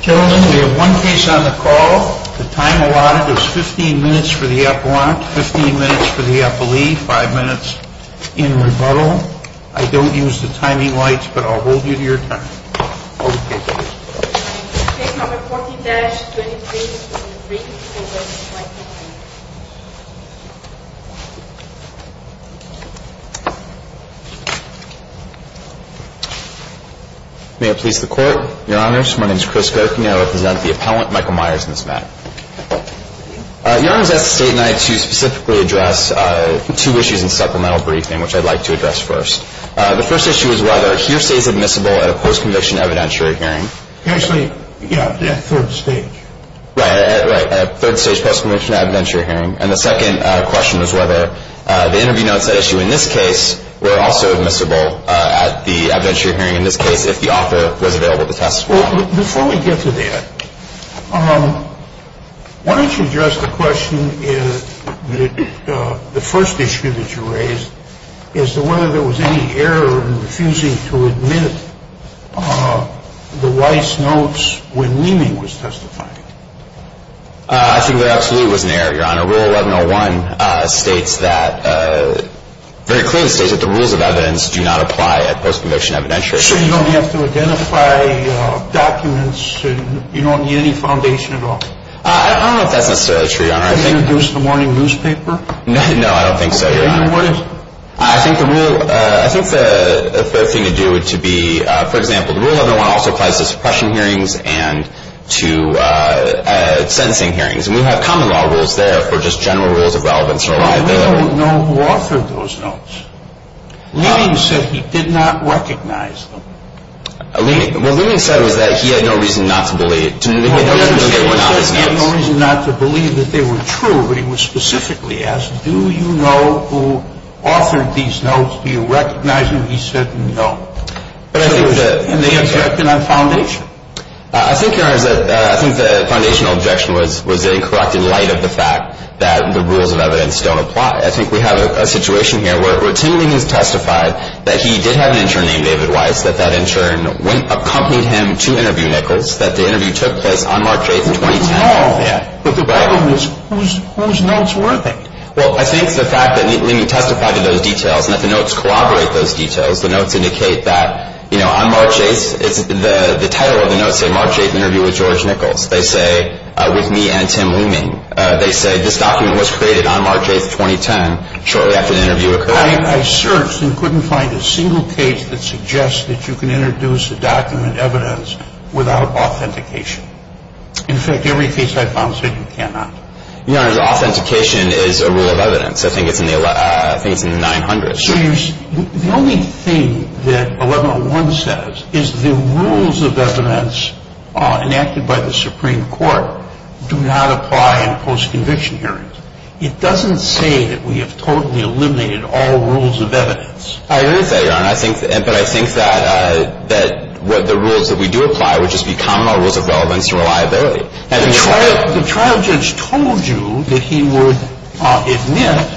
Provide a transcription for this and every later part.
Gentlemen, we have one case on the call. The time allotted is 15 minutes for the appellant, 15 minutes for the appellee, 5 minutes in rebuttal. I don't use the timing lights, but I'll hold you to your time. Case No. 40-23 is briefed. May it please the Court. Your Honors, my name is Chris Gokian. I represent the appellant, Michael Myers, in this matter. Your Honors, I was asked to stay tonight to specifically address two issues in supplemental briefing, which I'd like to address first. The first issue is whether a hearer stays admissible at a post-conviction evidentiary hearing. Actually, yeah, at third stage. Right, at a third stage post-conviction evidentiary hearing. And the second question is whether the interview notes at issue in this case were also admissible at the evidentiary hearing in this case if the author was available to testify. Before we get to that, why don't you address the question, the first issue that you raised, as to whether there was any error in refusing to admit the Weiss notes when Leeming was testifying. I think there absolutely was an error, Your Honor. Rule 1101 states that, very clearly states that the rules of evidence do not apply at post-conviction evidentiary hearings. Are you sure you don't have to identify documents? You don't need any foundation at all? I don't know if that's necessarily true, Your Honor. Can you introduce the morning newspaper? No, I don't think so, Your Honor. Then what is it? I think the thing to do would be, for example, the rule 1101 also applies to suppression hearings and to sentencing hearings. Well, we don't know who authored those notes. Leeming said he did not recognize them. What Leeming said was that he had no reason not to believe that they were not his notes. He had no reason not to believe that they were true, but he was specifically asked, do you know who authored these notes? Do you recognize them? He said, no. And they objected on foundation. I think, Your Honor, I think the foundational objection was in the light of the fact that the rules of evidence don't apply. I think we have a situation here where Tim Leeming has testified that he did have an intern named David Weiss, that that intern accompanied him to interview Nichols, that the interview took place on March 8, 2010. I don't know. Yeah. But the problem is, whose notes were they? Well, I think the fact that Leeming testified to those details and that the notes corroborate those details, the notes indicate that, you know, on March 8, the title of the notes say, March 8, interview with George Nichols. They say, with me and Tim Leeming. They say this document was created on March 8, 2010, shortly after the interview occurred. I searched and couldn't find a single case that suggests that you can introduce a document evidence without authentication. In fact, every case I found said you cannot. Your Honor, the authentication is a rule of evidence. I think it's in the 900s. So the only thing that 1101 says is the rules of evidence enacted by the Supreme Court do not apply in post-conviction hearings. It doesn't say that we have totally eliminated all rules of evidence. It is that, Your Honor. But I think that the rules that we do apply would just be common law rules of relevance and reliability. The trial judge told you that he would admit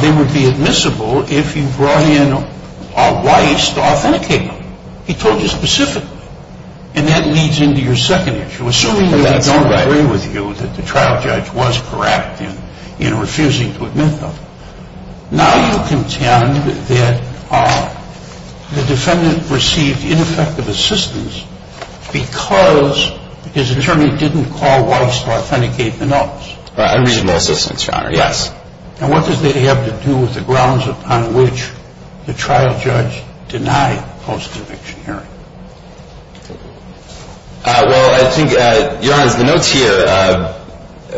they would be admissible if you brought in a vice to authenticate them. He told you specifically. And that leads into your second issue. Assuming that we don't agree with you that the trial judge was correct in refusing to admit them. Now you contend that the defendant received ineffective assistance because his attorney didn't call Weiss to authenticate the notes. Unreasonable assistance, Your Honor. Yes. And what does that have to do with the grounds upon which the trial judge denied post-conviction hearing? Well, I think, Your Honor, the notes here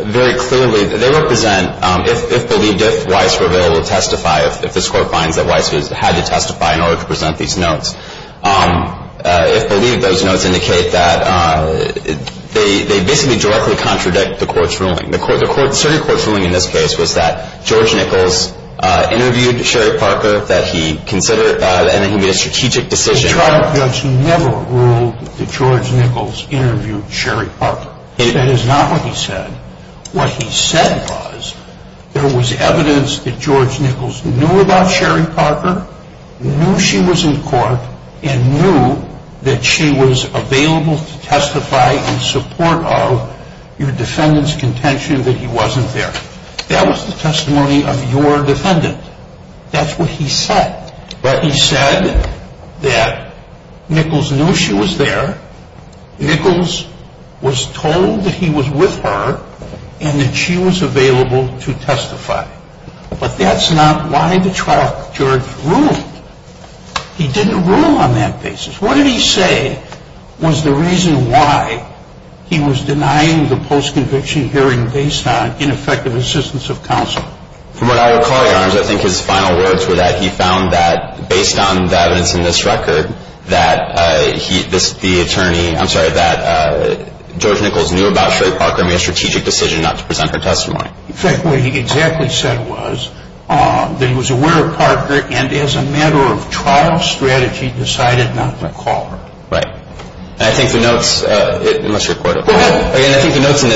very clearly, they represent, if believed, if Weiss were able to testify, if this Court finds that Weiss had to testify in order to present these notes. If believed, those notes indicate that they basically directly contradict the Court's ruling. The Supreme Court's ruling in this case was that George Nichols interviewed Sherry Parker, that he considered, and that he made a strategic decision. The trial judge never ruled that George Nichols interviewed Sherry Parker. That is not what he said. What he said was there was evidence that George Nichols knew about Sherry Parker, knew she was in court, and knew that she was available to testify in support of your defendant's contention that he wasn't there. That was the testimony of your defendant. That's what he said. But he said that Nichols knew she was there. Nichols was told that he was with her and that she was available to testify. But that's not why the trial judge ruled. He didn't rule on that basis. What did he say was the reason why he was denying the post-conviction hearing based on ineffective assistance of counsel? From what I recall, Your Honor, I think his final words were that he found that based on the evidence in this record, that the attorney, I'm sorry, that George Nichols knew about Sherry Parker and made a strategic decision not to present her testimony. In fact, what he exactly said was that he was aware of Parker and as a matter of trial strategy decided not to call her. Right. Go ahead. Again, I think the notes in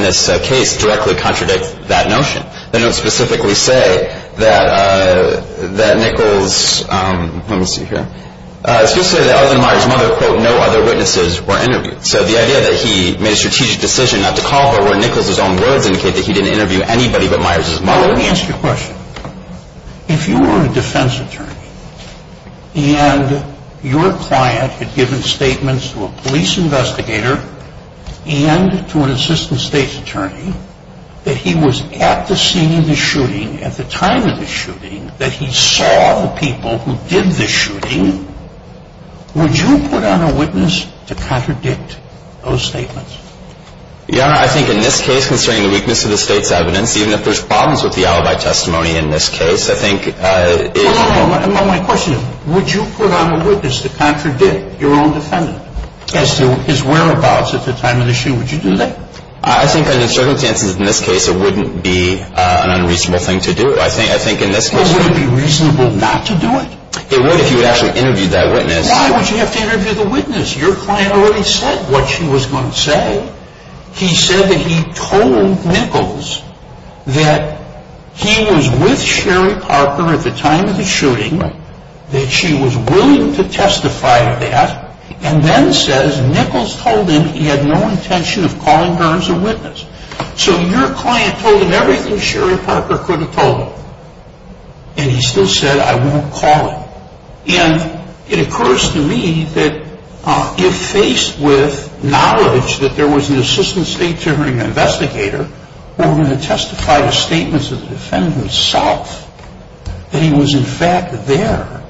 this case directly contradict that notion. The notes specifically say that Nichols, let me see here, it's good to say that other than Myers' mother, quote, no other witnesses were interviewed. So the idea that he made a strategic decision not to call her where Nichols' own words indicate that he didn't interview anybody but Myers' mother. Let me ask you a question. If you were a defense attorney and your client had given statements to a police investigator and to an assistant state's attorney that he was at the scene of the shooting, at the time of the shooting, that he saw the people who did the shooting, would you put on a witness to contradict those statements? Your Honor, I think in this case, considering the weakness of the state's evidence, even if there's problems with the alibi testimony in this case, I think it's- Hold on, hold on. My question is, would you put on a witness to contradict your own defendant as to his whereabouts at the time of the shooting? Would you do that? I think under certain circumstances in this case it wouldn't be an unreasonable thing to do. I think in this case- Would it be reasonable not to do it? It would if you would actually interview that witness. Why would you have to interview the witness? Your client already said what she was going to say. He said that he told Nichols that he was with Sherry Parker at the time of the shooting, that she was willing to testify to that, and then says Nichols told him he had no intention of calling her as a witness. So your client told him everything Sherry Parker could have told him, and he still said, I won't call him. And it occurs to me that if faced with knowledge that there was an assistant state jury investigator who were going to testify to statements of the defendant himself, that he was in fact there,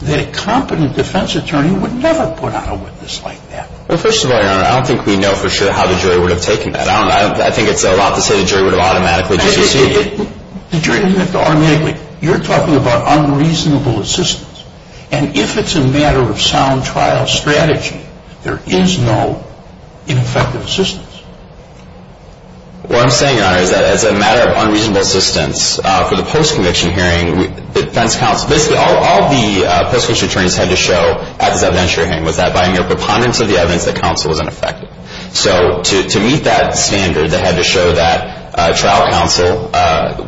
that a competent defense attorney would never put on a witness like that. Well, first of all, Your Honor, I don't think we know for sure how the jury would have taken that. I think it's a lot to say the jury would have automatically dissociated. The jury doesn't have to automatically. You're talking about unreasonable assistance. And if it's a matter of sound trial strategy, there is no ineffective assistance. What I'm saying, Your Honor, is that as a matter of unreasonable assistance, for the post-conviction hearing, defense counsel, basically all the post-conviction attorneys had to show at this evidence hearing was that by mere preponderance of the evidence, the counsel was ineffective. So to meet that standard, they had to show that trial counsel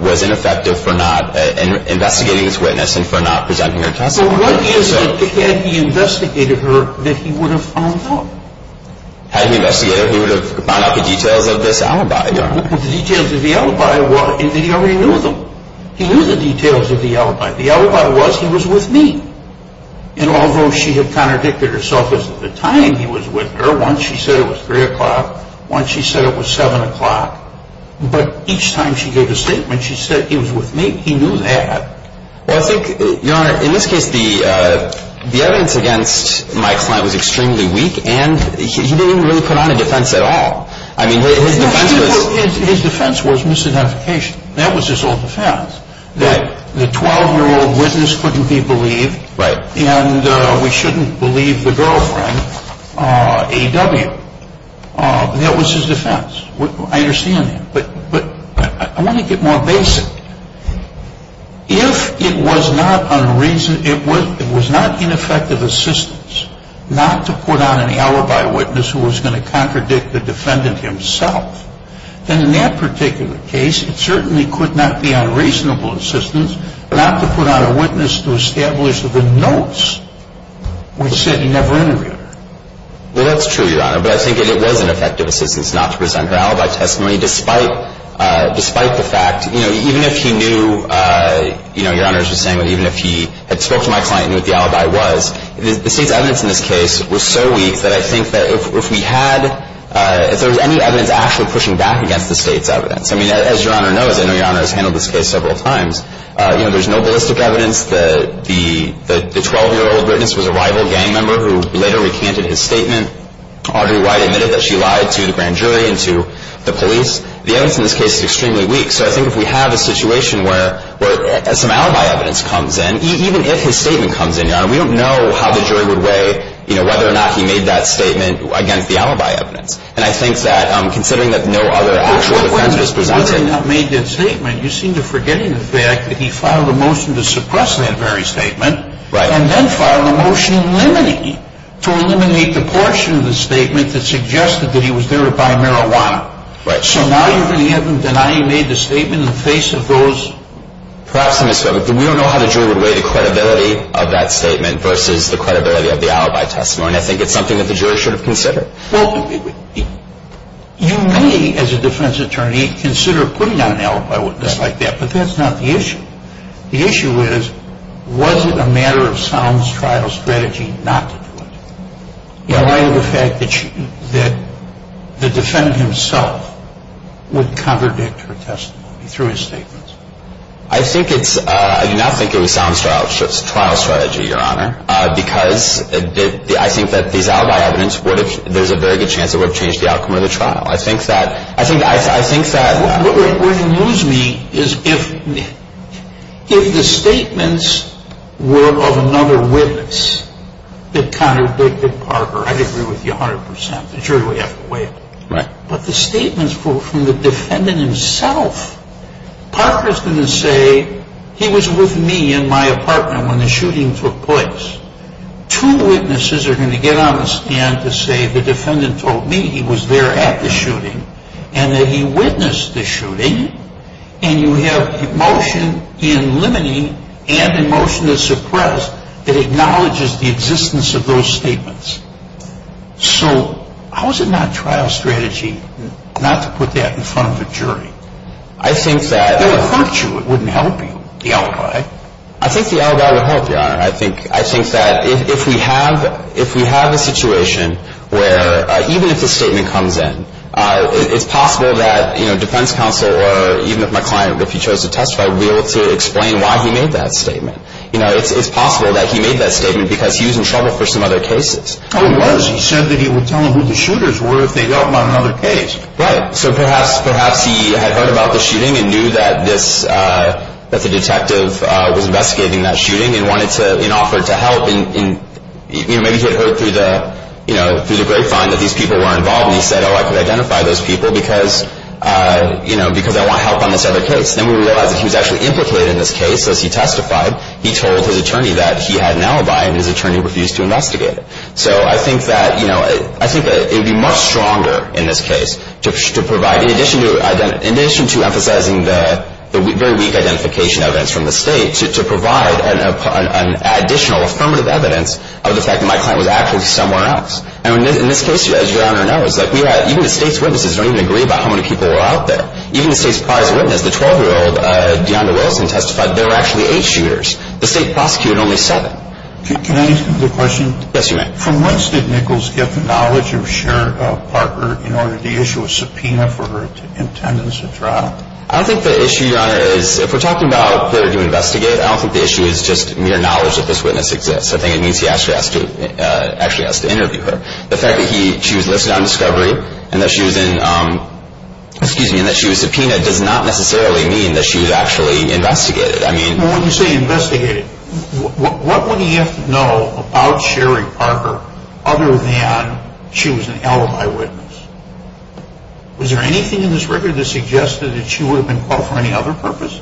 was ineffective for not investigating this witness and for not presenting her testimony. But what is it, had he investigated her, that he would have found out? Had he investigated her, he would have found out the details of this alibi, Your Honor. The details of the alibi, he already knew them. He knew the details of the alibi. The alibi was he was with me. And although she had contradicted herself as at the time he was with her, once she said it was 3 o'clock, once she said it was 7 o'clock, but each time she gave a statement, she said he was with me. He knew that. Well, I think, Your Honor, in this case, the evidence against my client was extremely weak and he didn't really put on a defense at all. I mean, his defense was... His defense was misidentification. That was his whole defense, that the 12-year-old witness couldn't be believed... Right. And we shouldn't believe the girlfriend, A.W. That was his defense. I understand that. But I want to get more basic. If it was not an effective assistance not to put on an alibi witness who was going to contradict the defendant himself, then in that particular case it certainly could not be unreasonable assistance not to put on a witness to establish the notes which said he never interviewed her. Well, that's true, Your Honor. But I think it was an effective assistance not to present her alibi testimony despite the fact, you know, even if he knew, you know, Your Honor, as you were saying, even if he had spoke to my client and knew what the alibi was, the state's evidence in this case was so weak that I think that if we had, if there was any evidence actually pushing back against the state's evidence, I mean, as Your Honor knows, I know Your Honor has handled this case several times, you know, there's no ballistic evidence. The 12-year-old witness was a rival gang member who later recanted his statement. Audrey White admitted that she lied to the grand jury and to the police. The evidence in this case is extremely weak. So I think if we have a situation where some alibi evidence comes in, even if his statement comes in, Your Honor, we don't know how the jury would weigh, you know, whether or not he made that statement against the alibi evidence. And I think that considering that no other actual defense was presented. Now, whether or not he made that statement, you seem to forget the fact that he filed a motion to suppress that very statement. Right. And then filed a motion eliminating it, to eliminate the portion of the statement that suggested that he was there to buy marijuana. Right. So now you're going to have him denying he made the statement in the face of those. Perhaps, Mr. Feigin, we don't know how the jury would weigh the credibility of that statement versus the credibility of the alibi testimony. I think it's something that the jury should have considered. Well, you may, as a defense attorney, consider putting on an alibi witness like that, but that's not the issue. The issue is, was it a matter of sound trial strategy not to do it? In light of the fact that the defendant himself would contradict her testimony through his statements. I do not think it was sound trial strategy, Your Honor, because I think that these alibi evidence, there's a very good chance it would have changed the outcome of the trial. I think that... What would amuse me is if the statements were of another witness that contradicted Parker. I'd agree with you 100%. The jury would have to weigh it. Right. But the statements from the defendant himself, Parker's going to say he was with me in my apartment when the shooting took place. Two witnesses are going to get on the stand to say the defendant told me he was there at the shooting and that he witnessed the shooting, and you have motion in limiting and in motion to suppress that acknowledges the existence of those statements. So how is it not trial strategy not to put that in front of the jury? I think that... It would hurt you. It wouldn't help you, the alibi. I think the alibi would help, Your Honor. I think that if we have a situation where even if the statement comes in, it's possible that defense counsel or even if my client, if he chose to testify, would be able to explain why he made that statement. It's possible that he made that statement because he was in trouble for some other cases. Oh, he was. He said that he would tell them who the shooters were if they helped him on another case. Right. So perhaps he had heard about the shooting and knew that the detective was investigating that shooting and offered to help. Maybe he had heard through the grapevine that these people were involved, and he said, oh, I could identify those people because I want help on this other case. Then we realize that he was actually implicated in this case. So as he testified, he told his attorney that he had an alibi, and his attorney refused to investigate it. So I think that it would be much stronger in this case to provide, in addition to emphasizing the very weak identification evidence from the State, to provide an additional affirmative evidence of the fact that my client was actually somewhere else. And in this case, as Your Honor knows, even the State's witnesses don't even agree about how many people were out there. Even the State's prized witness, the 12-year-old Dionda Wilson testified, there were actually eight shooters. The State prosecuted only seven. Can I ask a quick question? Yes, you may. From whence did Nichols get the knowledge of Sharon Parker in order to issue a subpoena for her attendance at trial? I think the issue, Your Honor, is if we're talking about whether to investigate, I don't think the issue is just mere knowledge that this witness exists. I think it means he actually has to interview her. The fact that she was listed on discovery and that she was subpoenaed does not necessarily mean that she was actually investigated. When you say investigated, what would he have to know about Sharon Parker other than she was an LMI witness? Was there anything in this record that suggested that she would have been caught for any other purpose?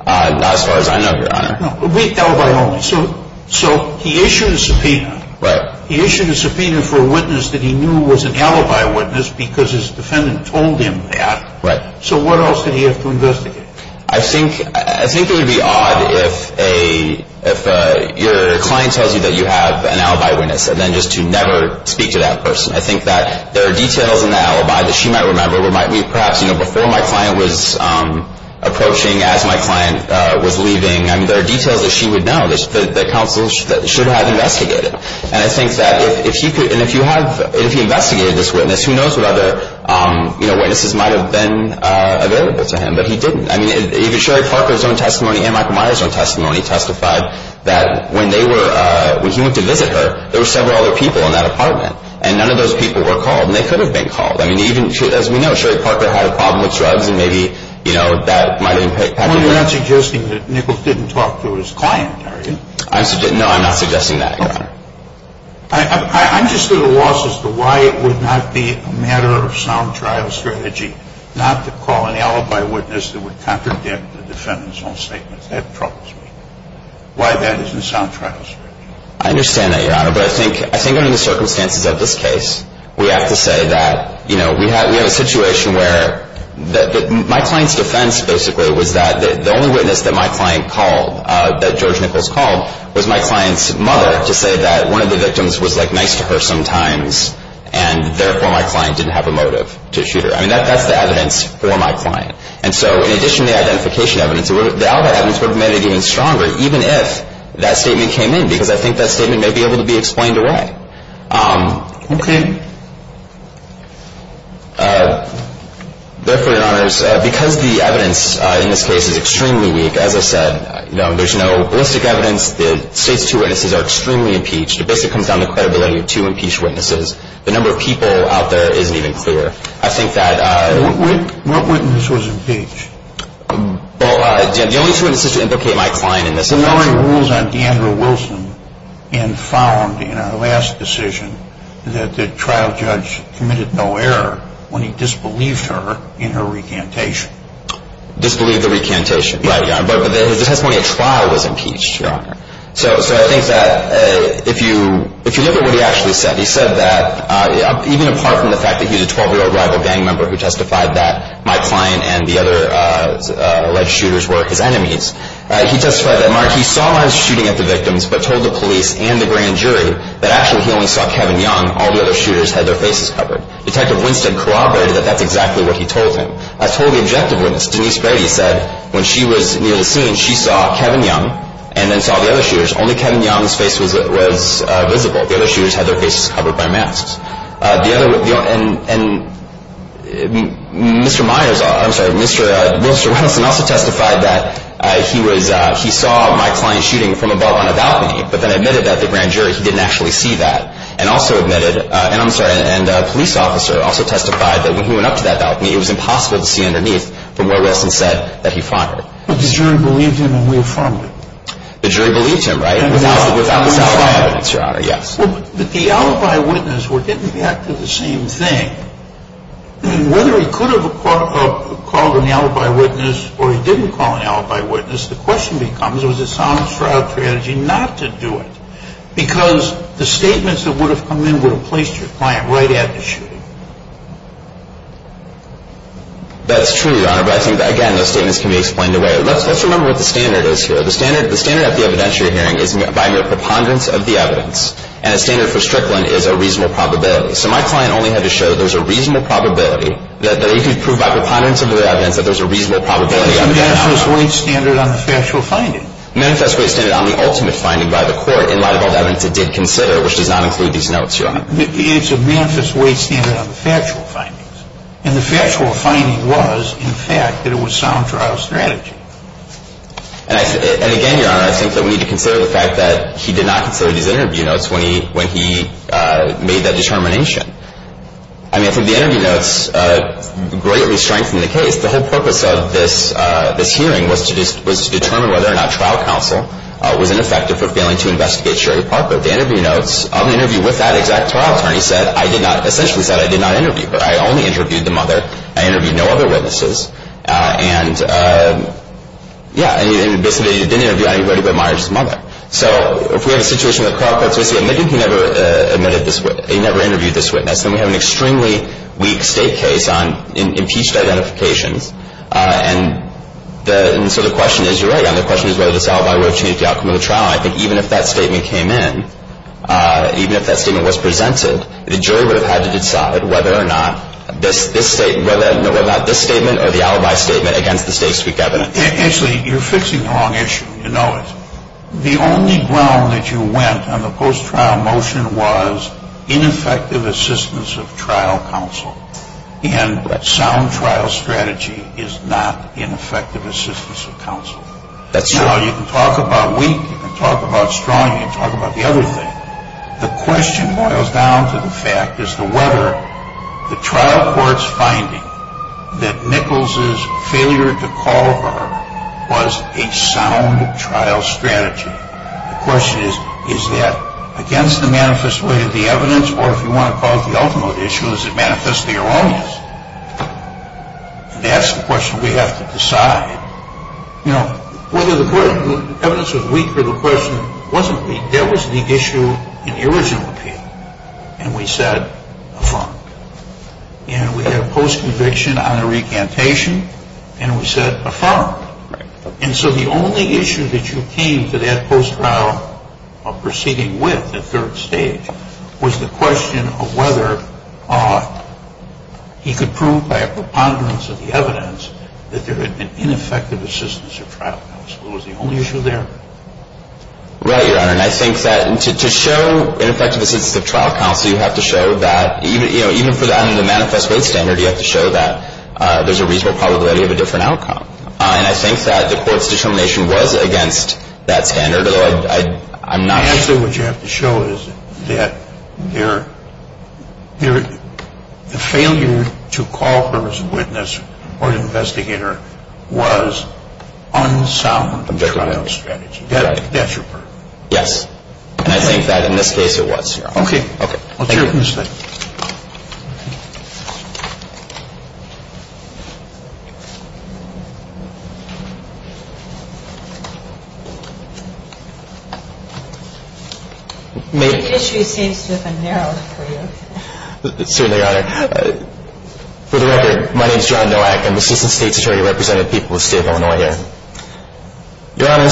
Not as far as I know, Your Honor. LMI only. So he issued a subpoena. Right. He issued a subpoena for a witness that he knew was an alibi witness because his defendant told him that. Right. So what else did he have to investigate? I think it would be odd if your client tells you that you have an alibi witness and then just to never speak to that person. I think that there are details in the alibi that she might remember. Perhaps before my client was approaching, as my client was leaving, there are details that she would know that counsel should have investigated. And I think that if he investigated this witness, who knows what other witnesses might have been available to him, but he didn't. I mean, even Sherry Parker's own testimony and Michael Myers' own testimony testified that when he went to visit her, there were several other people in that apartment, and none of those people were called, and they could have been called. I mean, as we know, Sherry Parker had a problem with drugs, and maybe that might have impacted her. You're not suggesting that Nichols didn't talk to his client, are you? No, I'm not suggesting that, Your Honor. I'm just at a loss as to why it would not be a matter of sound trial strategy not to call an alibi witness that would contradict the defendant's own statements. That troubles me, why that isn't sound trial strategy. I understand that, Your Honor, but I think under the circumstances of this case, we have to say that, you know, we have a situation where my client's defense, basically, was that the only witness that my client called, that George Nichols called, was my client's mother to say that one of the victims was, like, nice to her sometimes, and, therefore, my client didn't have a motive to shoot her. I mean, that's the evidence for my client. And so, in addition to the identification evidence, the alibi evidence would have made it even stronger, even if that statement came in, because I think that statement may be able to be explained away. Okay. Therefore, Your Honors, because the evidence in this case is extremely weak, as I said, you know, there's no ballistic evidence. The state's two witnesses are extremely impeached. It basically comes down to the credibility of two impeached witnesses. The number of people out there isn't even clear. I think that – What witness was impeached? Well, the only two witnesses to implicate my client in this – I'm following rules on Deandra Wilson and found in her last decision that the trial judge committed no error when he disbelieved her in her recantation. Disbelieved the recantation. Right, Your Honor. But his testimony at trial was impeached, Your Honor. So I think that if you look at what he actually said, he said that even apart from the fact that he was a 12-year-old rival gang member who testified that my client and the other alleged shooters were his enemies, he testified that, Mark, he saw them shooting at the victims, but told the police and the grand jury that actually he only saw Kevin Young. All the other shooters had their faces covered. Detective Winston corroborated that that's exactly what he told him. I told the objective witness, Denise Brady said, when she was near the scene, she saw Kevin Young and then saw the other shooters. Only Kevin Young's face was visible. The other shooters had their faces covered by masks. The other – and Mr. Myers – I'm sorry, Mr. – Mr. Wilson also testified that he was – he saw my client shooting from above on a balcony, but then admitted that the grand jury, he didn't actually see that, and also admitted – and I'm sorry, and a police officer also testified that when he went up to that balcony, it was impossible to see underneath from where Winston said that he found her. But the jury believed him and reaffirmed it. The jury believed him, right, without the solid evidence, Your Honor, yes. But the alibi witness didn't react to the same thing. Whether he could have called an alibi witness or he didn't call an alibi witness, the question becomes was it a sound strategy not to do it because the statements that would have come in would have placed your client right at the shooting. That's true, Your Honor, but I think, again, those statements can be explained away. Let's remember what the standard is here. The standard of the evidence you're hearing is by mere preponderance of the evidence, and a standard for Strickland is a reasonable probability. So my client only had to show that there's a reasonable probability, that he could prove by preponderance of the evidence that there's a reasonable probability. What's the manifest weight standard on the factual finding? The manifest weight standard on the ultimate finding by the court in light of all the evidence it did consider, which does not include these notes, Your Honor. It's a manifest weight standard on the factual findings. And the factual finding was, in fact, that it was a sound trial strategy. And, again, Your Honor, I think that we need to consider the fact that he did not consider these interview notes when he made that determination. I mean, I think the interview notes greatly strengthened the case. The whole purpose of this hearing was to determine whether or not trial counsel was ineffective for failing to investigate Sherry Parker. The interview notes of the interview with that exact trial attorney said, I did not, essentially said, I did not interview her. I only interviewed the mother. I interviewed no other witnesses. And, yeah, basically, he didn't interview anybody but Meyers' mother. So if we have a situation where the trial attorney says, look, he never interviewed this witness, then we have an extremely weak state case on impeached identifications. And so the question is, Your Honor, the question is whether this alibi will change the outcome of the trial. And I think even if that statement came in, even if that statement was presented, the jury would have had to decide whether or not this statement or the alibi statement against the state's weak evidence. Actually, you're fixing the wrong issue. You know it. The only ground that you went on the post-trial motion was ineffective assistance of trial counsel. And sound trial strategy is not ineffective assistance of counsel. That's true. You can talk about weak. You can talk about strong. You can talk about the other thing. The question boils down to the fact as to whether the trial court's finding that Nichols' failure to call her was a sound trial strategy. The question is, is that against the manifest way of the evidence, or if you want to cause the ultimate issue, is it manifestly erroneous? That's the question we have to decide. You know, whether the evidence was weak or the question wasn't weak. There was the issue in the original appeal, and we said affirm. And we had a post-conviction on a recantation, and we said affirm. Right. And so the only issue that you came to that post-trial proceeding with at third stage was the question of whether he could prove by a preponderance of the evidence that there had been ineffective assistance of trial counsel. Was the only issue there? Right, Your Honor. And I think that to show ineffective assistance of trial counsel, you have to show that even for the manifest way standard, you have to show that there's a reasonable probability of a different outcome. And I think that the court's determination was against that standard, although I'm not sure. The only other thing you have to show is that the failure to call her as a witness or an investigator was unsound trial strategy. That's your part. Yes. And I think that in this case it was, Your Honor. Okay. Thank you. The issue seems to have been narrowed for you. Certainly, Your Honor. For the record, my name is John Nowak. I'm the Assistant State's Attorney representing the people of the state of Illinois here. Your Honor,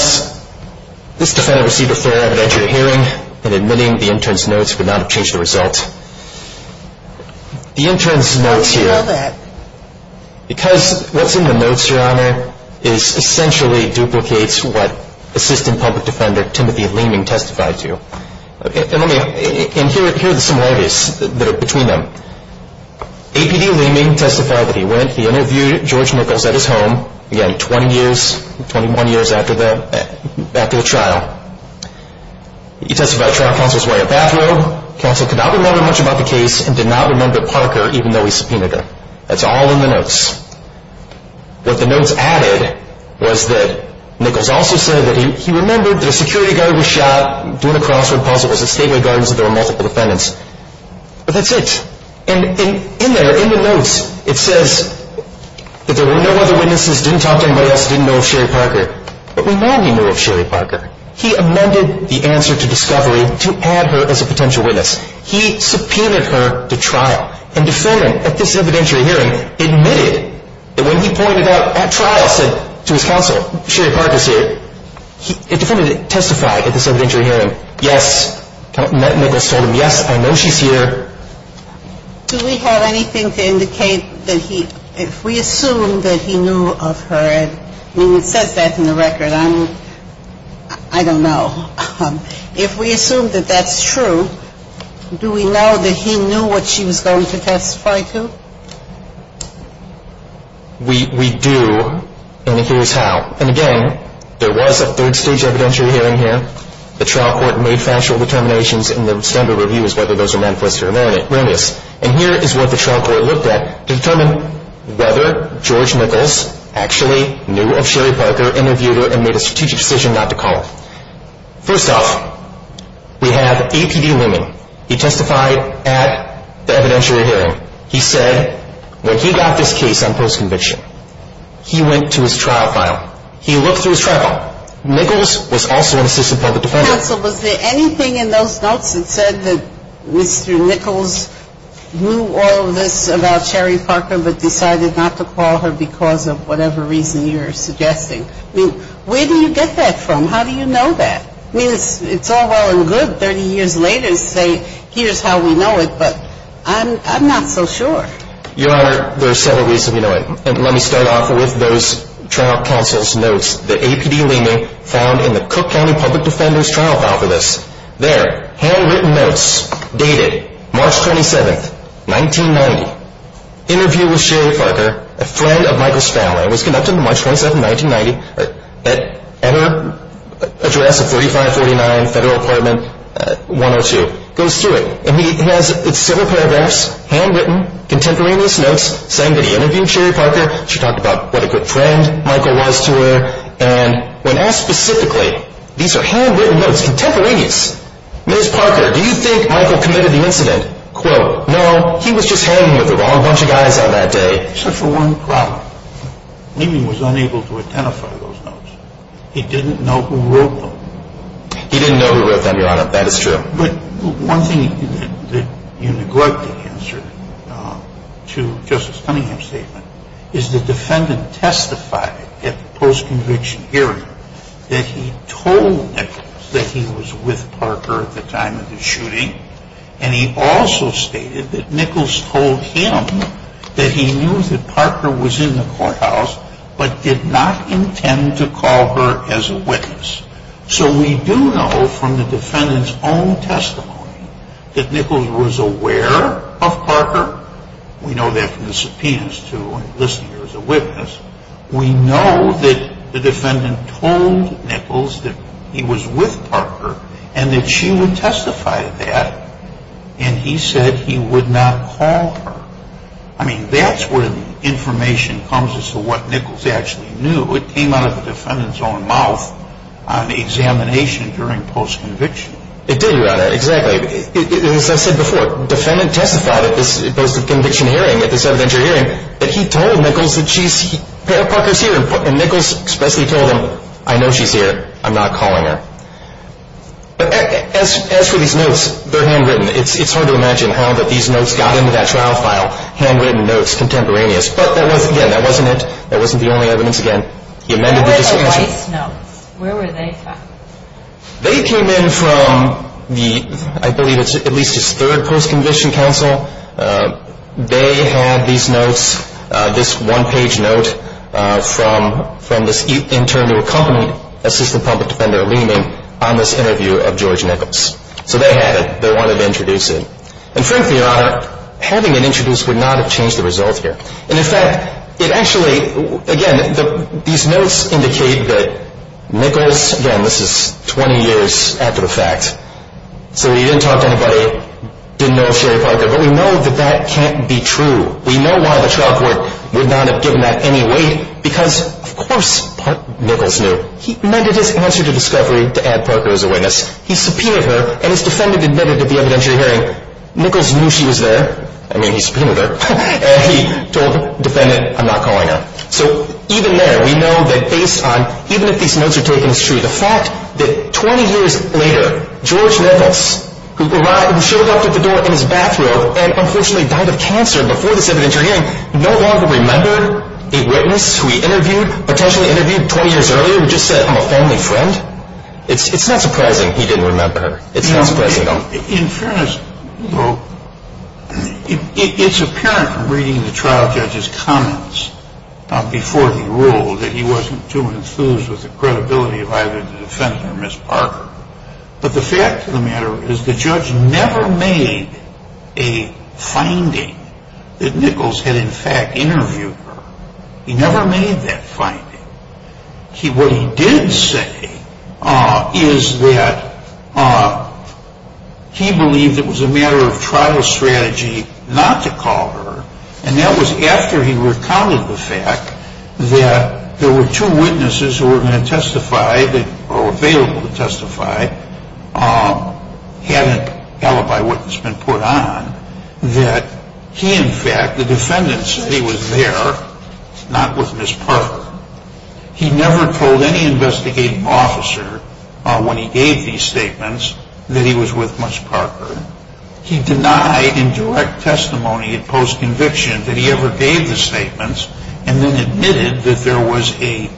this defendant received a thorough evidentiary hearing and admitting the intern's notes would not have changed the result. The intern's notes here. How did you know that? Because what's in the notes, Your Honor, is essentially duplicates what Assistant Public Defender Timothy Leeming testified to. And here are the similarities that are between them. APD Leeming testified that he went, he interviewed George Nichols at his home, again, 20 years, 21 years after the trial. He testified the trial counsel was wearing a bathrobe, counsel could not remember much about the case, and did not remember Parker, even though he subpoenaed him. That's all in the notes. What the notes added was that Nichols also said that he remembered that a security guard was shot, doing a crossword puzzle, was at Stateway Gardens, and there were multiple defendants. But that's it. And in there, in the notes, it says that there were no other witnesses, didn't talk to anybody else, didn't know of Sherry Parker. But Leeming knew of Sherry Parker. He amended the answer to discovery to add her as a potential witness. He subpoenaed her to trial. And defendant, at this evidentiary hearing, admitted that when he pointed out at trial, said to his counsel, Sherry Parker's here, the defendant testified at this evidentiary hearing, yes. Nichols told him, yes, I know she's here. Do we have anything to indicate that he, if we assume that he knew of her, I mean, it says that in the record. I don't know. If we assume that that's true, do we know that he knew what she was going to testify to? We do, and here's how. And, again, there was a third stage evidentiary hearing here. The trial court made factual determinations, and the standard review is whether those are manifested or not. And here is what the trial court looked at to determine whether George Nichols actually knew of Sherry Parker, interviewed her, and made a strategic decision not to call her. First off, we have APD Leeming. He testified at the evidentiary hearing. He said when he got this case on post-conviction, he went to his trial file. He looked through his trial file. Nichols was also an assistant public defender. Counsel, was there anything in those notes that said that Mr. Nichols knew all of this about Sherry Parker but decided not to call her because of whatever reason you're suggesting? I mean, where do you get that from? How do you know that? I mean, it's all well and good 30 years later to say here's how we know it, but I'm not so sure. Your Honor, there are several reasons we know it. And let me start off with those trial counsel's notes. The APD Leeming found in the Cook County Public Defender's trial file for this. There, handwritten notes dated March 27, 1990. Interview with Sherry Parker, a friend of Michael's family. It was conducted on March 27, 1990 at her address of 3549 Federal Apartment 102. Goes through it, and he has several paragraphs, handwritten, contemporaneous notes, saying that he interviewed Sherry Parker. She talked about what a good friend Michael was to her. And when asked specifically, these are handwritten notes, contemporaneous. Ms. Parker, do you think Michael committed the incident? Quote, no, he was just hanging with the wrong bunch of guys on that day. Except for one problem. Leeming was unable to identify those notes. He didn't know who wrote them. He didn't know who wrote them, Your Honor. That is true. But one thing that you neglected to answer to Justice Cunningham's statement is the defendant testified at the post-conviction hearing that he told Nichols that he was with Parker at the time of the shooting. And he also stated that Nichols told him that he knew that Parker was in the courthouse but did not intend to call her as a witness. So we do know from the defendant's own testimony that Nichols was aware of Parker. We know that from the subpoenas, too, and listening to her as a witness. We know that the defendant told Nichols that he was with Parker and that she would testify to that, and he said he would not call her. I mean, that's where the information comes as to what Nichols actually knew. It came out of the defendant's own mouth on examination during post-conviction. It did, Your Honor. Exactly. As I said before, defendant testified at this post-conviction hearing, at this evidentiary hearing, that he told Nichols that Parker's here, and Nichols expressly told him, I know she's here. I'm not calling her. But as for these notes, they're handwritten. It's hard to imagine how these notes got into that trial file, handwritten notes contemporaneous. But, again, that wasn't it. That wasn't the only evidence, again. Where were the Weiss notes? Where were they found? They came in from the, I believe it's at least his third post-conviction counsel. They had these notes, this one-page note from this intern who accompanied Assistant Public Defender Lehman on this interview of George Nichols. So they had it. They wanted to introduce it. And frankly, Your Honor, having it introduced would not have changed the result here. And, in fact, it actually, again, these notes indicate that Nichols, again, this is 20 years after the fact. So he didn't talk to anybody, didn't know Sherry Parker. But we know that that can't be true. We know why the trial court would not have given that any weight, because, of course, Nichols knew. He amended his answer to discovery to add Parker as a witness. He subpoenaed her, and his defendant admitted to the evidentiary hearing, Nichols knew she was there. I mean, he subpoenaed her. And he told the defendant, I'm not calling her. So even there, we know that based on, even if these notes are taken, it's true. The fact that 20 years later, George Nichols, who showed up at the door in his bathrobe and unfortunately died of cancer before this evidentiary hearing, no longer remembered a witness who he interviewed, potentially interviewed 20 years earlier, who just said, I'm a family friend. It's not surprising he didn't remember her. It's not surprising at all. In fairness, it's apparent from reading the trial judge's comments before he ruled that he wasn't too enthused with the credibility of either the defendant or Ms. Parker. But the fact of the matter is the judge never made a finding that Nichols had, in fact, interviewed her. He never made that finding. What he did say is that he believed it was a matter of trial strategy not to call her. And that was after he recounted the fact that there were two witnesses who were going to testify, or were available to testify, had an alibi witness been put on, that he, in fact, the defendant said he was there, not with Ms. Parker. He never told any investigating officer when he gave these statements that he was with Ms. Parker. He denied in direct testimony, in post-conviction, that he ever gave the statements and then admitted that there was a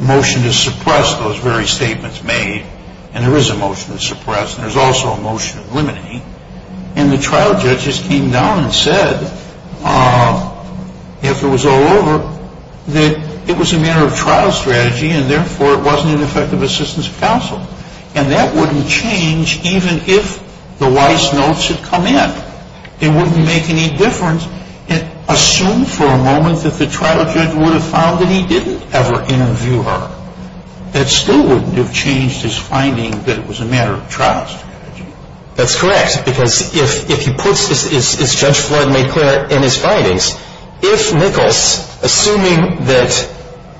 motion to suppress those very statements made. And there is a motion to suppress, and there's also a motion to eliminate. And the trial judges came down and said, after it was all over, that it was a matter of trial strategy and therefore it wasn't an effective assistance of counsel. And that wouldn't change even if the Weiss notes had come in. It wouldn't make any difference. Assume for a moment that the trial judge would have found that he didn't ever interview her. That still wouldn't have changed his finding that it was a matter of trial strategy. That's correct, because if he puts, as Judge Flood made clear in his findings, if Nichols, assuming that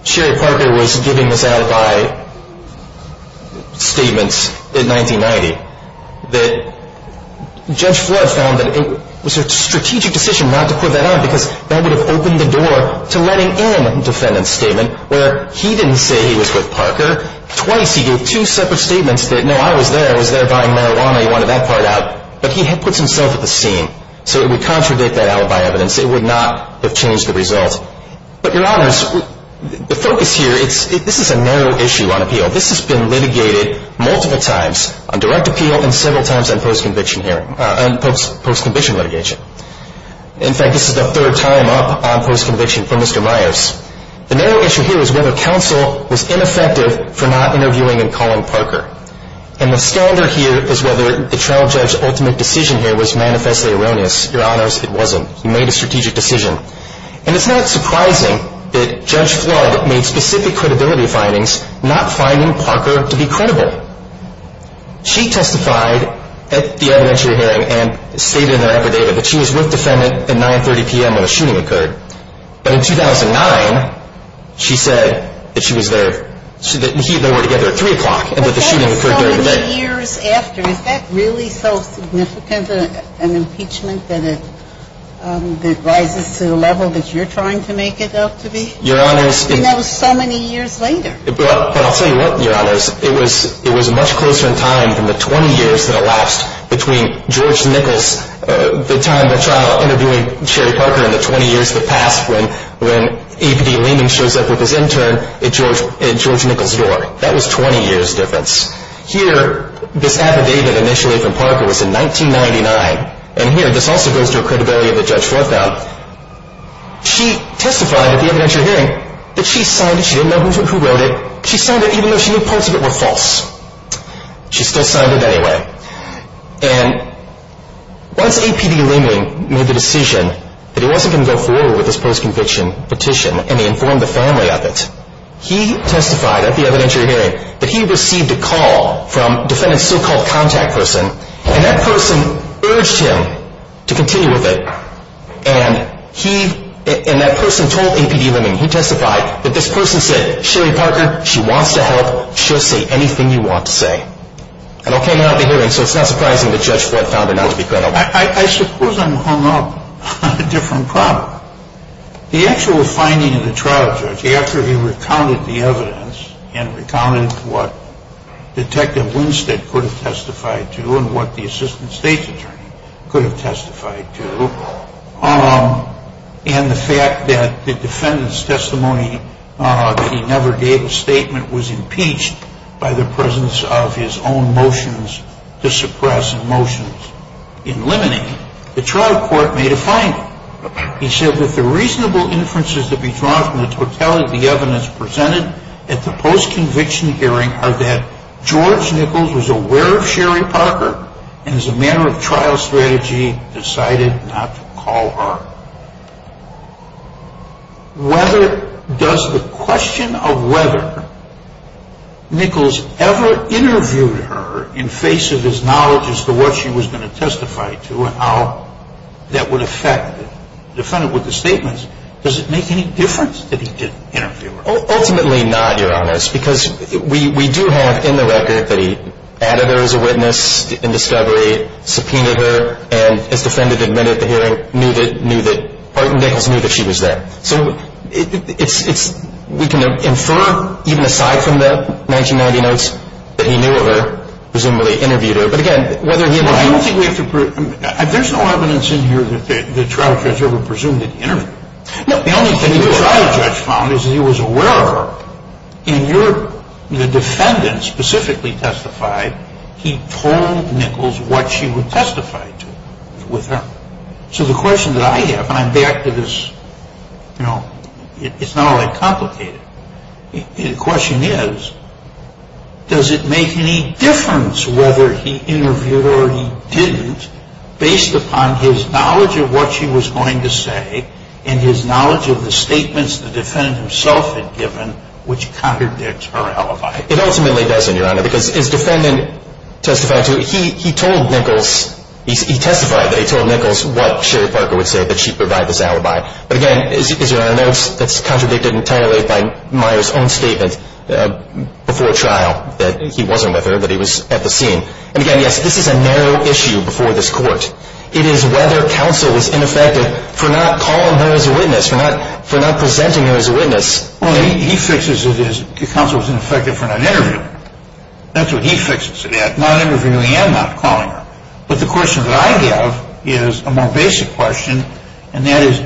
Sherry Parker was giving this alibi statements in 1990, that Judge Flood found that it was a strategic decision not to put that on because that would have opened the door to letting in a defendant's statement where he didn't say he was with Parker. Twice he gave two separate statements that, no, I was there. I was there buying marijuana. He wanted that part out. But he puts himself at the scene. So it would contradict that alibi evidence. It would not have changed the result. But, Your Honors, the focus here, this is a narrow issue on appeal. This has been litigated multiple times on direct appeal and several times on post-conviction litigation. In fact, this is the third time up on post-conviction for Mr. Myers. The narrow issue here is whether counsel was ineffective for not interviewing and calling Parker. And the standard here is whether the trial judge's ultimate decision here was manifestly erroneous. Your Honors, it wasn't. He made a strategic decision. And it's not surprising that Judge Flood made specific credibility findings not finding Parker to be credible. She testified at the evidentiary hearing and stated in their affidavit that she was with the defendant at 9.30 p.m. when the shooting occurred. But in 2009, she said that she was there. They were together at 3 o'clock and that the shooting occurred during the day. But that was so many years after. Is that really so significant an impeachment that it rises to the level that you're trying to make it out to be? Your Honors, it was so many years later. But I'll tell you what, Your Honors. It was much closer in time than the 20 years that elapsed between George Nichols, the time of the trial interviewing Sherry Parker, and the 20 years that passed when A.P.D. Lehman shows up with his intern at George Nichols' door. That was 20 years' difference. Here, this affidavit initially from Parker was in 1999. And here, this also goes to the credibility of Judge Flood now. She testified at the evidentiary hearing that she signed it. She didn't know who wrote it. She signed it even though she knew parts of it were false. She still signed it anyway. And once A.P.D. Lehman made the decision that he wasn't going to go forward with this post-conviction petition and he informed the family of it, he testified at the evidentiary hearing that he received a call from the defendant's so-called contact person, and that person urged him to continue with it. And that person told A.P.D. Lehman, he testified, that this person said, Sherry Parker, she wants to help. She'll say anything you want to say. It all came out at the hearing, so it's not surprising that Judge Flood found her not to be credible. I suppose I'm hung up on a different problem. The actual finding of the trial, Judge, after he recounted the evidence and recounted what Detective Winstead could have testified to and what the assistant state's attorney could have testified to, and the fact that the defendant's testimony that he never gave a statement was impeached by the presence of his own motions to suppress and motions to eliminate, the trial court made a finding. He said that the reasonable inferences to be drawn from the totality of the evidence presented at the post-conviction hearing are that George Nichols was aware of Sherry Parker and as a matter of trial strategy decided not to call her. Does the question of whether Nichols ever interviewed her in face of his knowledge as to what she was going to testify to and how that would affect the defendant with the statements, does it make any difference that he didn't interview her? Ultimately not, Your Honors, because we do have in the record that he added her as a witness in discovery, subpoenaed her, and his defendant admitted at the hearing knew that Nichols knew that she was there. So we can infer, even aside from the 1990 notes, that he knew of her, presumably interviewed her. But, again, whether he interviewed her. I don't think we have to prove. There's no evidence in here that the trial judge ever presumed that he interviewed her. The only thing the trial judge found is that he was aware of her. In your, the defendant specifically testified, he told Nichols what she would testify to with her. So the question that I have, and I'm back to this, you know, it's not all that complicated. The question is, does it make any difference whether he interviewed her or he didn't based upon his knowledge of what she was going to say and his knowledge of the statements the defendant himself had given, which contradicts her alibi? It ultimately doesn't, Your Honor, because his defendant testified to it. He told Nichols, he testified that he told Nichols what Sherry Parker would say, that she provided this alibi. But, again, as Your Honor notes, that's contradicted entirely by Meyer's own statement before trial, that he wasn't with her, that he was at the scene. And, again, yes, this is a narrow issue before this court. It is whether counsel was ineffective for not calling her as a witness, for not presenting her as a witness. Well, he fixes it as counsel was ineffective for not interviewing her. That's what he fixes it at, not interviewing her and not calling her. But the question that I have is a more basic question, and that is,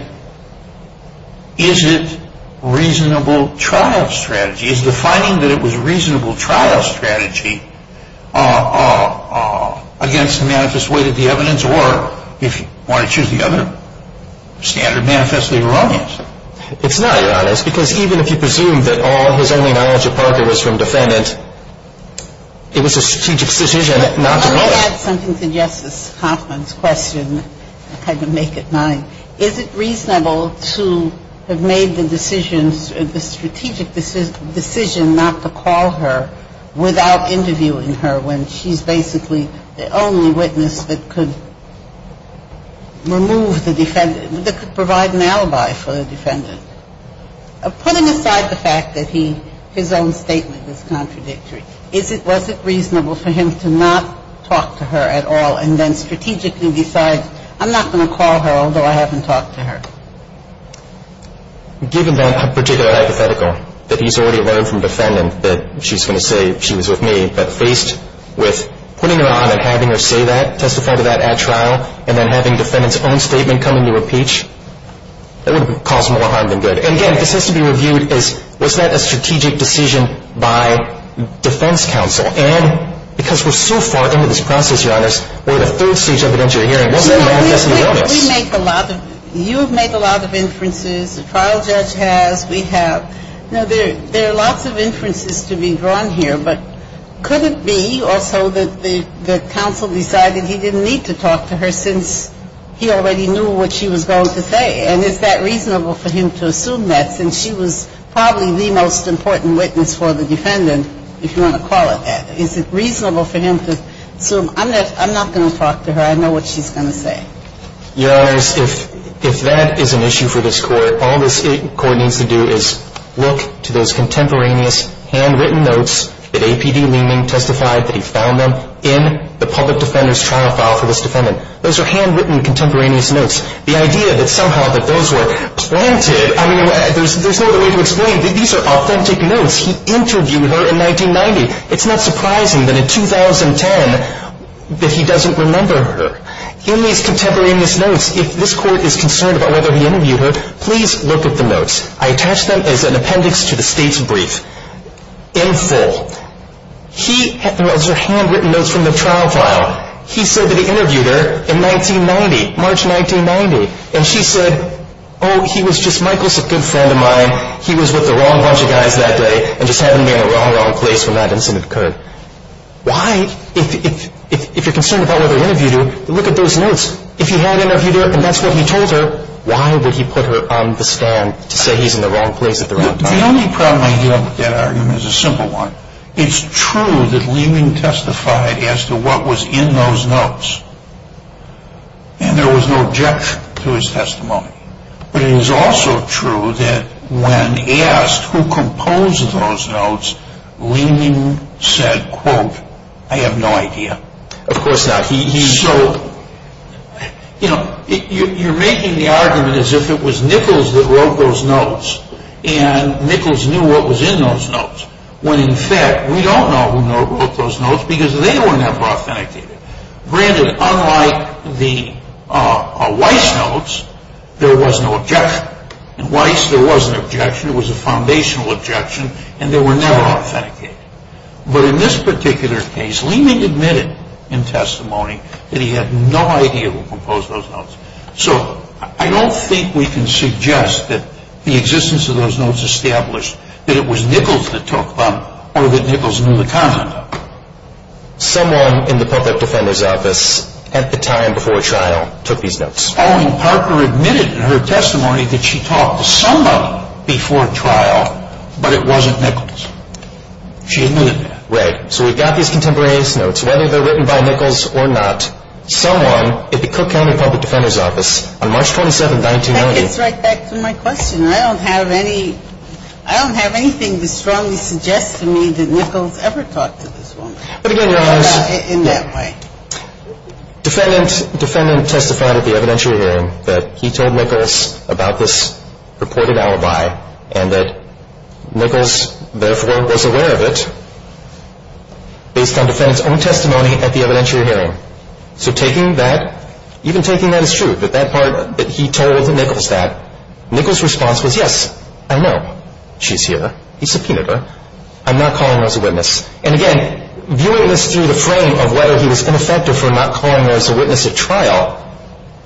is it reasonable trial strategy? It's not, Your Honor, it's because even if you presume that all his only knowledge of Parker was from defendant, it was a strategic decision not to call her. Let me add something to Justice Hoffman's question. I had to make it mine. Is it reasonable to have made the decisions, the strategic decision not to call her without interviewing her? I'm sorry, Your Honor, I'm not sure I'm sure. I'm not sure I'm sure I can make it to a conclusion without interviewing her when she's basically the only witness that could remove the defendant, that could provide an alibi for the defendant. Putting aside the fact that he, his own statement is contradictory, is it, was it reasonable for him to not talk to her at all and then strategically decide I'm not going to call her, although I haven't talked to her? Given that particular hypothetical, that he's already learned from the defendant that she's going to say she was with me, but faced with putting her on and having her say that, testify to that at trial, and then having the defendant's own statement come into repeach, that would have caused more harm than good. And again, this has to be reviewed as was that a strategic decision by defense counsel? And because we're so far into this process, Your Honors, we're at a third stage of an interim hearing. What's going to manifest in the witness? We make a lot of, you have made a lot of inferences, the trial judge has, we have. Now, there are lots of inferences to be drawn here, but could it be also that the counsel decided he didn't need to talk to her since he already knew what she was going to say? And is that reasonable for him to assume that since she was probably the most important witness for the defendant, if you want to call it that, is it reasonable for him to assume, I'm not going to talk to her, I know what she's going to say? Your Honors, if that is an issue for this Court, all this Court needs to do is look to those contemporaneous handwritten notes that APD Leeming testified that he found them in the public defender's trial file for this defendant. Those are handwritten contemporaneous notes. The idea that somehow that those were planted, I mean, there's no other way to explain that these are authentic notes. He interviewed her in 1990. It's not surprising that in 2010 that he doesn't remember her. In these contemporaneous notes, if this Court is concerned about whether he interviewed her, please look at the notes. I attach them as an appendix to the State's brief in full. He, those are handwritten notes from the trial file. He said that he interviewed her in 1990, March 1990, and she said, oh, he was just, Michael's a good friend of mine. He was with the wrong bunch of guys that day and just happened to be in the wrong place when that incident occurred. Why, if you're concerned about whether he interviewed her, look at those notes. If he had interviewed her and that's what he told her, why would he put her on the stand to say he's in the wrong place at the wrong time? The only problem I have with that argument is a simple one. It's true that Leeming testified as to what was in those notes, and there was no objection to his testimony. But it is also true that when asked who composed those notes, Leeming said, quote, I have no idea. Of course not. So, you know, you're making the argument as if it was Nichols that wrote those notes and Nichols knew what was in those notes, when in fact we don't know who wrote those notes because they were never authenticated. Granted, unlike the Weiss notes, there was no objection. In Weiss, there was an objection. It was a foundational objection, and they were never authenticated. But in this particular case, Leeming admitted in testimony that he had no idea who composed those notes. So I don't think we can suggest that the existence of those notes established that it was Nichols that took them or that Nichols knew the content of them. Someone in the Public Defender's Office at the time before trial took these notes. Pauline Parker admitted in her testimony that she talked to somebody before trial, but it wasn't Nichols. She admitted that. Right. So we've got these contemporaneous notes. Whether they're written by Nichols or not, someone at the Cook County Public Defender's Office on March 27, 1990 That gets right back to my question. I don't have anything to strongly suggest to me that Nichols ever talked to this woman in that way. But again, Your Honors, defendant testified at the evidentiary hearing that he told Nichols about this purported alibi and that Nichols, therefore, was aware of it based on defendant's own testimony at the evidentiary hearing. So taking that, even taking that as true, that that part that he told Nichols that, Nichols' response was, yes, I know. She's here. He subpoenaed her. I'm not calling her as a witness. And again, viewing this through the frame of whether he was ineffective for not calling her as a witness at trial,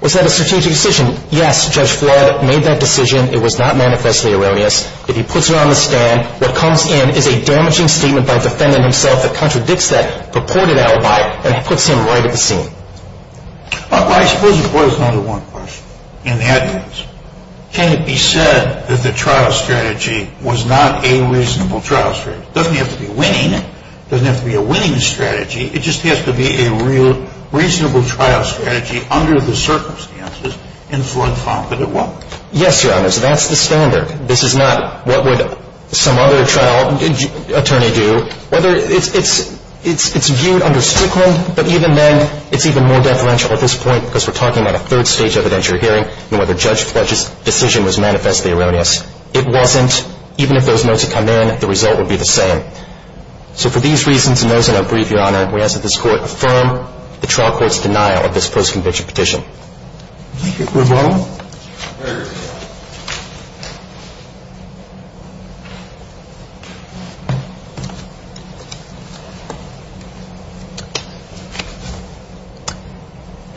was that a strategic decision? Yes, Judge Flood made that decision. It was not manifestly erroneous. If he puts her on the stand, what comes in is a damaging statement by the defendant himself that contradicts that purported alibi and puts him right at the scene. Well, I suppose it boils down to one question, and that is, can it be said that the trial strategy was not a reasonable trial strategy? It doesn't have to be winning. It doesn't have to be a winning strategy. It just has to be a real reasonable trial strategy under the circumstances in which Flood found that it was. Yes, Your Honors. That's the standard. This is not what would some other trial attorney do. It's viewed under Strickland, but even then, it's even more deferential at this point because we're talking about a third-stage evidentiary hearing, and whether Judge Flood's decision was manifestly erroneous. It wasn't. Even if those notes had come in, the result would be the same. So for these reasons and those in our brief, Your Honor, we ask that this Court affirm the trial court's denial of this post-conviction petition. Thank you.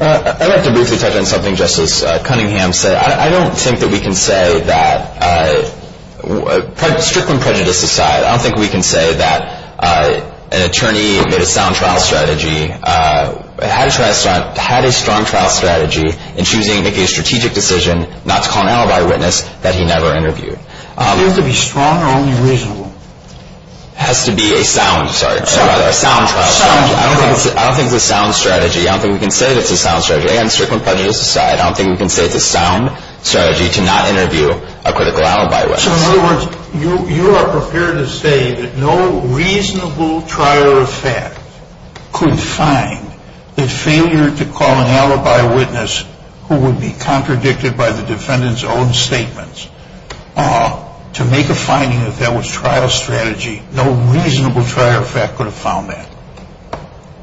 I'd like to briefly touch on something Justice Cunningham said. I don't think that we can say that, Strickland prejudice aside, I don't think we can say that an attorney made a sound trial strategy, had a strong trial strategy in choosing to make a strategic decision not to call an alibi witness that he never interviewed. It has to be strong or only reasonable. It has to be a sound trial strategy. I don't think it's a sound strategy. I don't think we can say that it's a sound strategy. Again, Strickland prejudice aside, I don't think we can say it's a sound strategy to not interview a critical alibi witness. So in other words, you are prepared to say that no reasonable trial or effect could find the failure to call an alibi witness who would be contradicted by the defendant's own statements to make a finding that that was trial strategy. No reasonable trial or effect could have found that.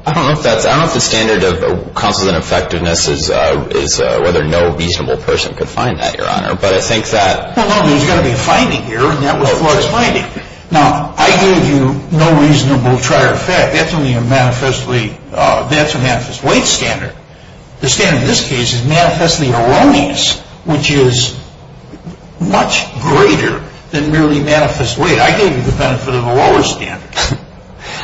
I don't know if the standard of counsel's ineffectiveness is whether no reasonable person could find that, Your Honor, but I think that... Well, no, there's got to be a finding here, and that was Clark's finding. Now, I gave you no reasonable trial or effect. That's only a manifestly weight standard. The standard in this case is manifestly erroneous, which is much greater than merely manifest weight. I gave you the benefit of a lower standard.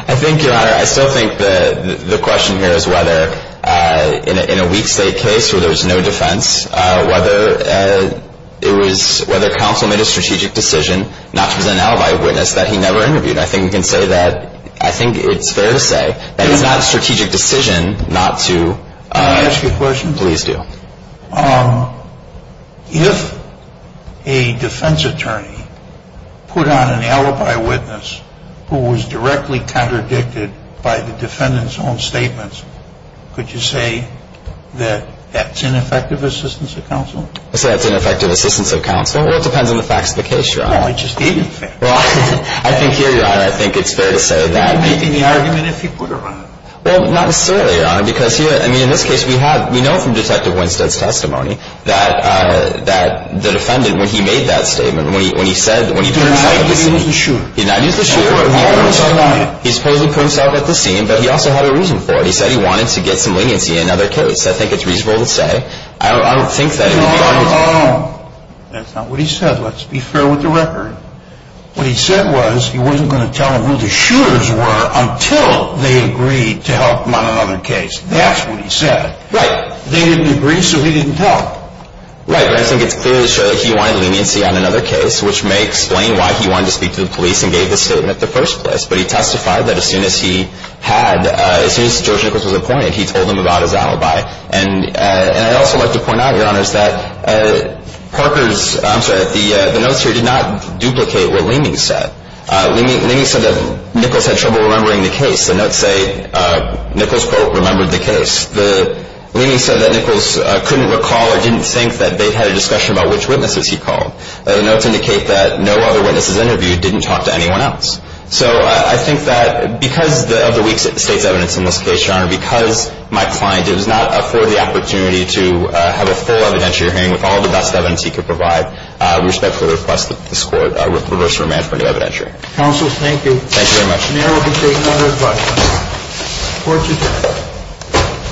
I think, Your Honor, I still think the question here is whether, in a weak state case where there was no defense, whether it was whether counsel made a strategic decision not to present an alibi witness that he never interviewed. I think we can say that I think it's fair to say that it's not a strategic decision not to... Can I ask you a question? Please do. If a defense attorney put on an alibi witness who was directly contradicted by the defendant's own statements, could you say that that's ineffective assistance of counsel? I say that's ineffective assistance of counsel. Well, it depends on the facts of the case, Your Honor. No, I just gave you the facts. Well, I think here, Your Honor, I think it's fair to say that... Would you be making the argument if he put her on? Well, not necessarily, Your Honor, because here... I mean, in this case, we know from Detective Winstead's testimony that the defendant, when he made that statement, when he said... He did not use the shooter. He did not use the shooter. He supposedly put himself at the scene, but he also had a reason for it. He said he wanted to get some leniency in another case. I think it's reasonable to say. I don't think that... No, no, no. That's not what he said. Let's be fair with the record. What he said was he wasn't going to tell them who the shooters were until they agreed to help him on another case. That's what he said. Right. They didn't agree, so he didn't tell them. Right, but I think it's clear to show that he wanted leniency on another case, which may explain why he wanted to speak to the police and gave his statement in the first place. But he testified that as soon as he had... As soon as George Nichols was appointed, he told them about his alibi. And I'd also like to point out, Your Honor, is that Parker's... I'd like to replicate what Leeming said. Leeming said that Nichols had trouble remembering the case. The notes say Nichols, quote, remembered the case. Leeming said that Nichols couldn't recall or didn't think that they'd had a discussion about which witnesses he called. The notes indicate that no other witnesses interviewed didn't talk to anyone else. So I think that because of the weak state's evidence in this case, Your Honor, because my client did not afford the opportunity to have a full evidentiary hearing with all the best evidence he could provide, we respectfully request that this Court reverse the remand for an evidentiary. Counsel, thank you. Thank you very much. The Court will be taking other advice. Court is adjourned.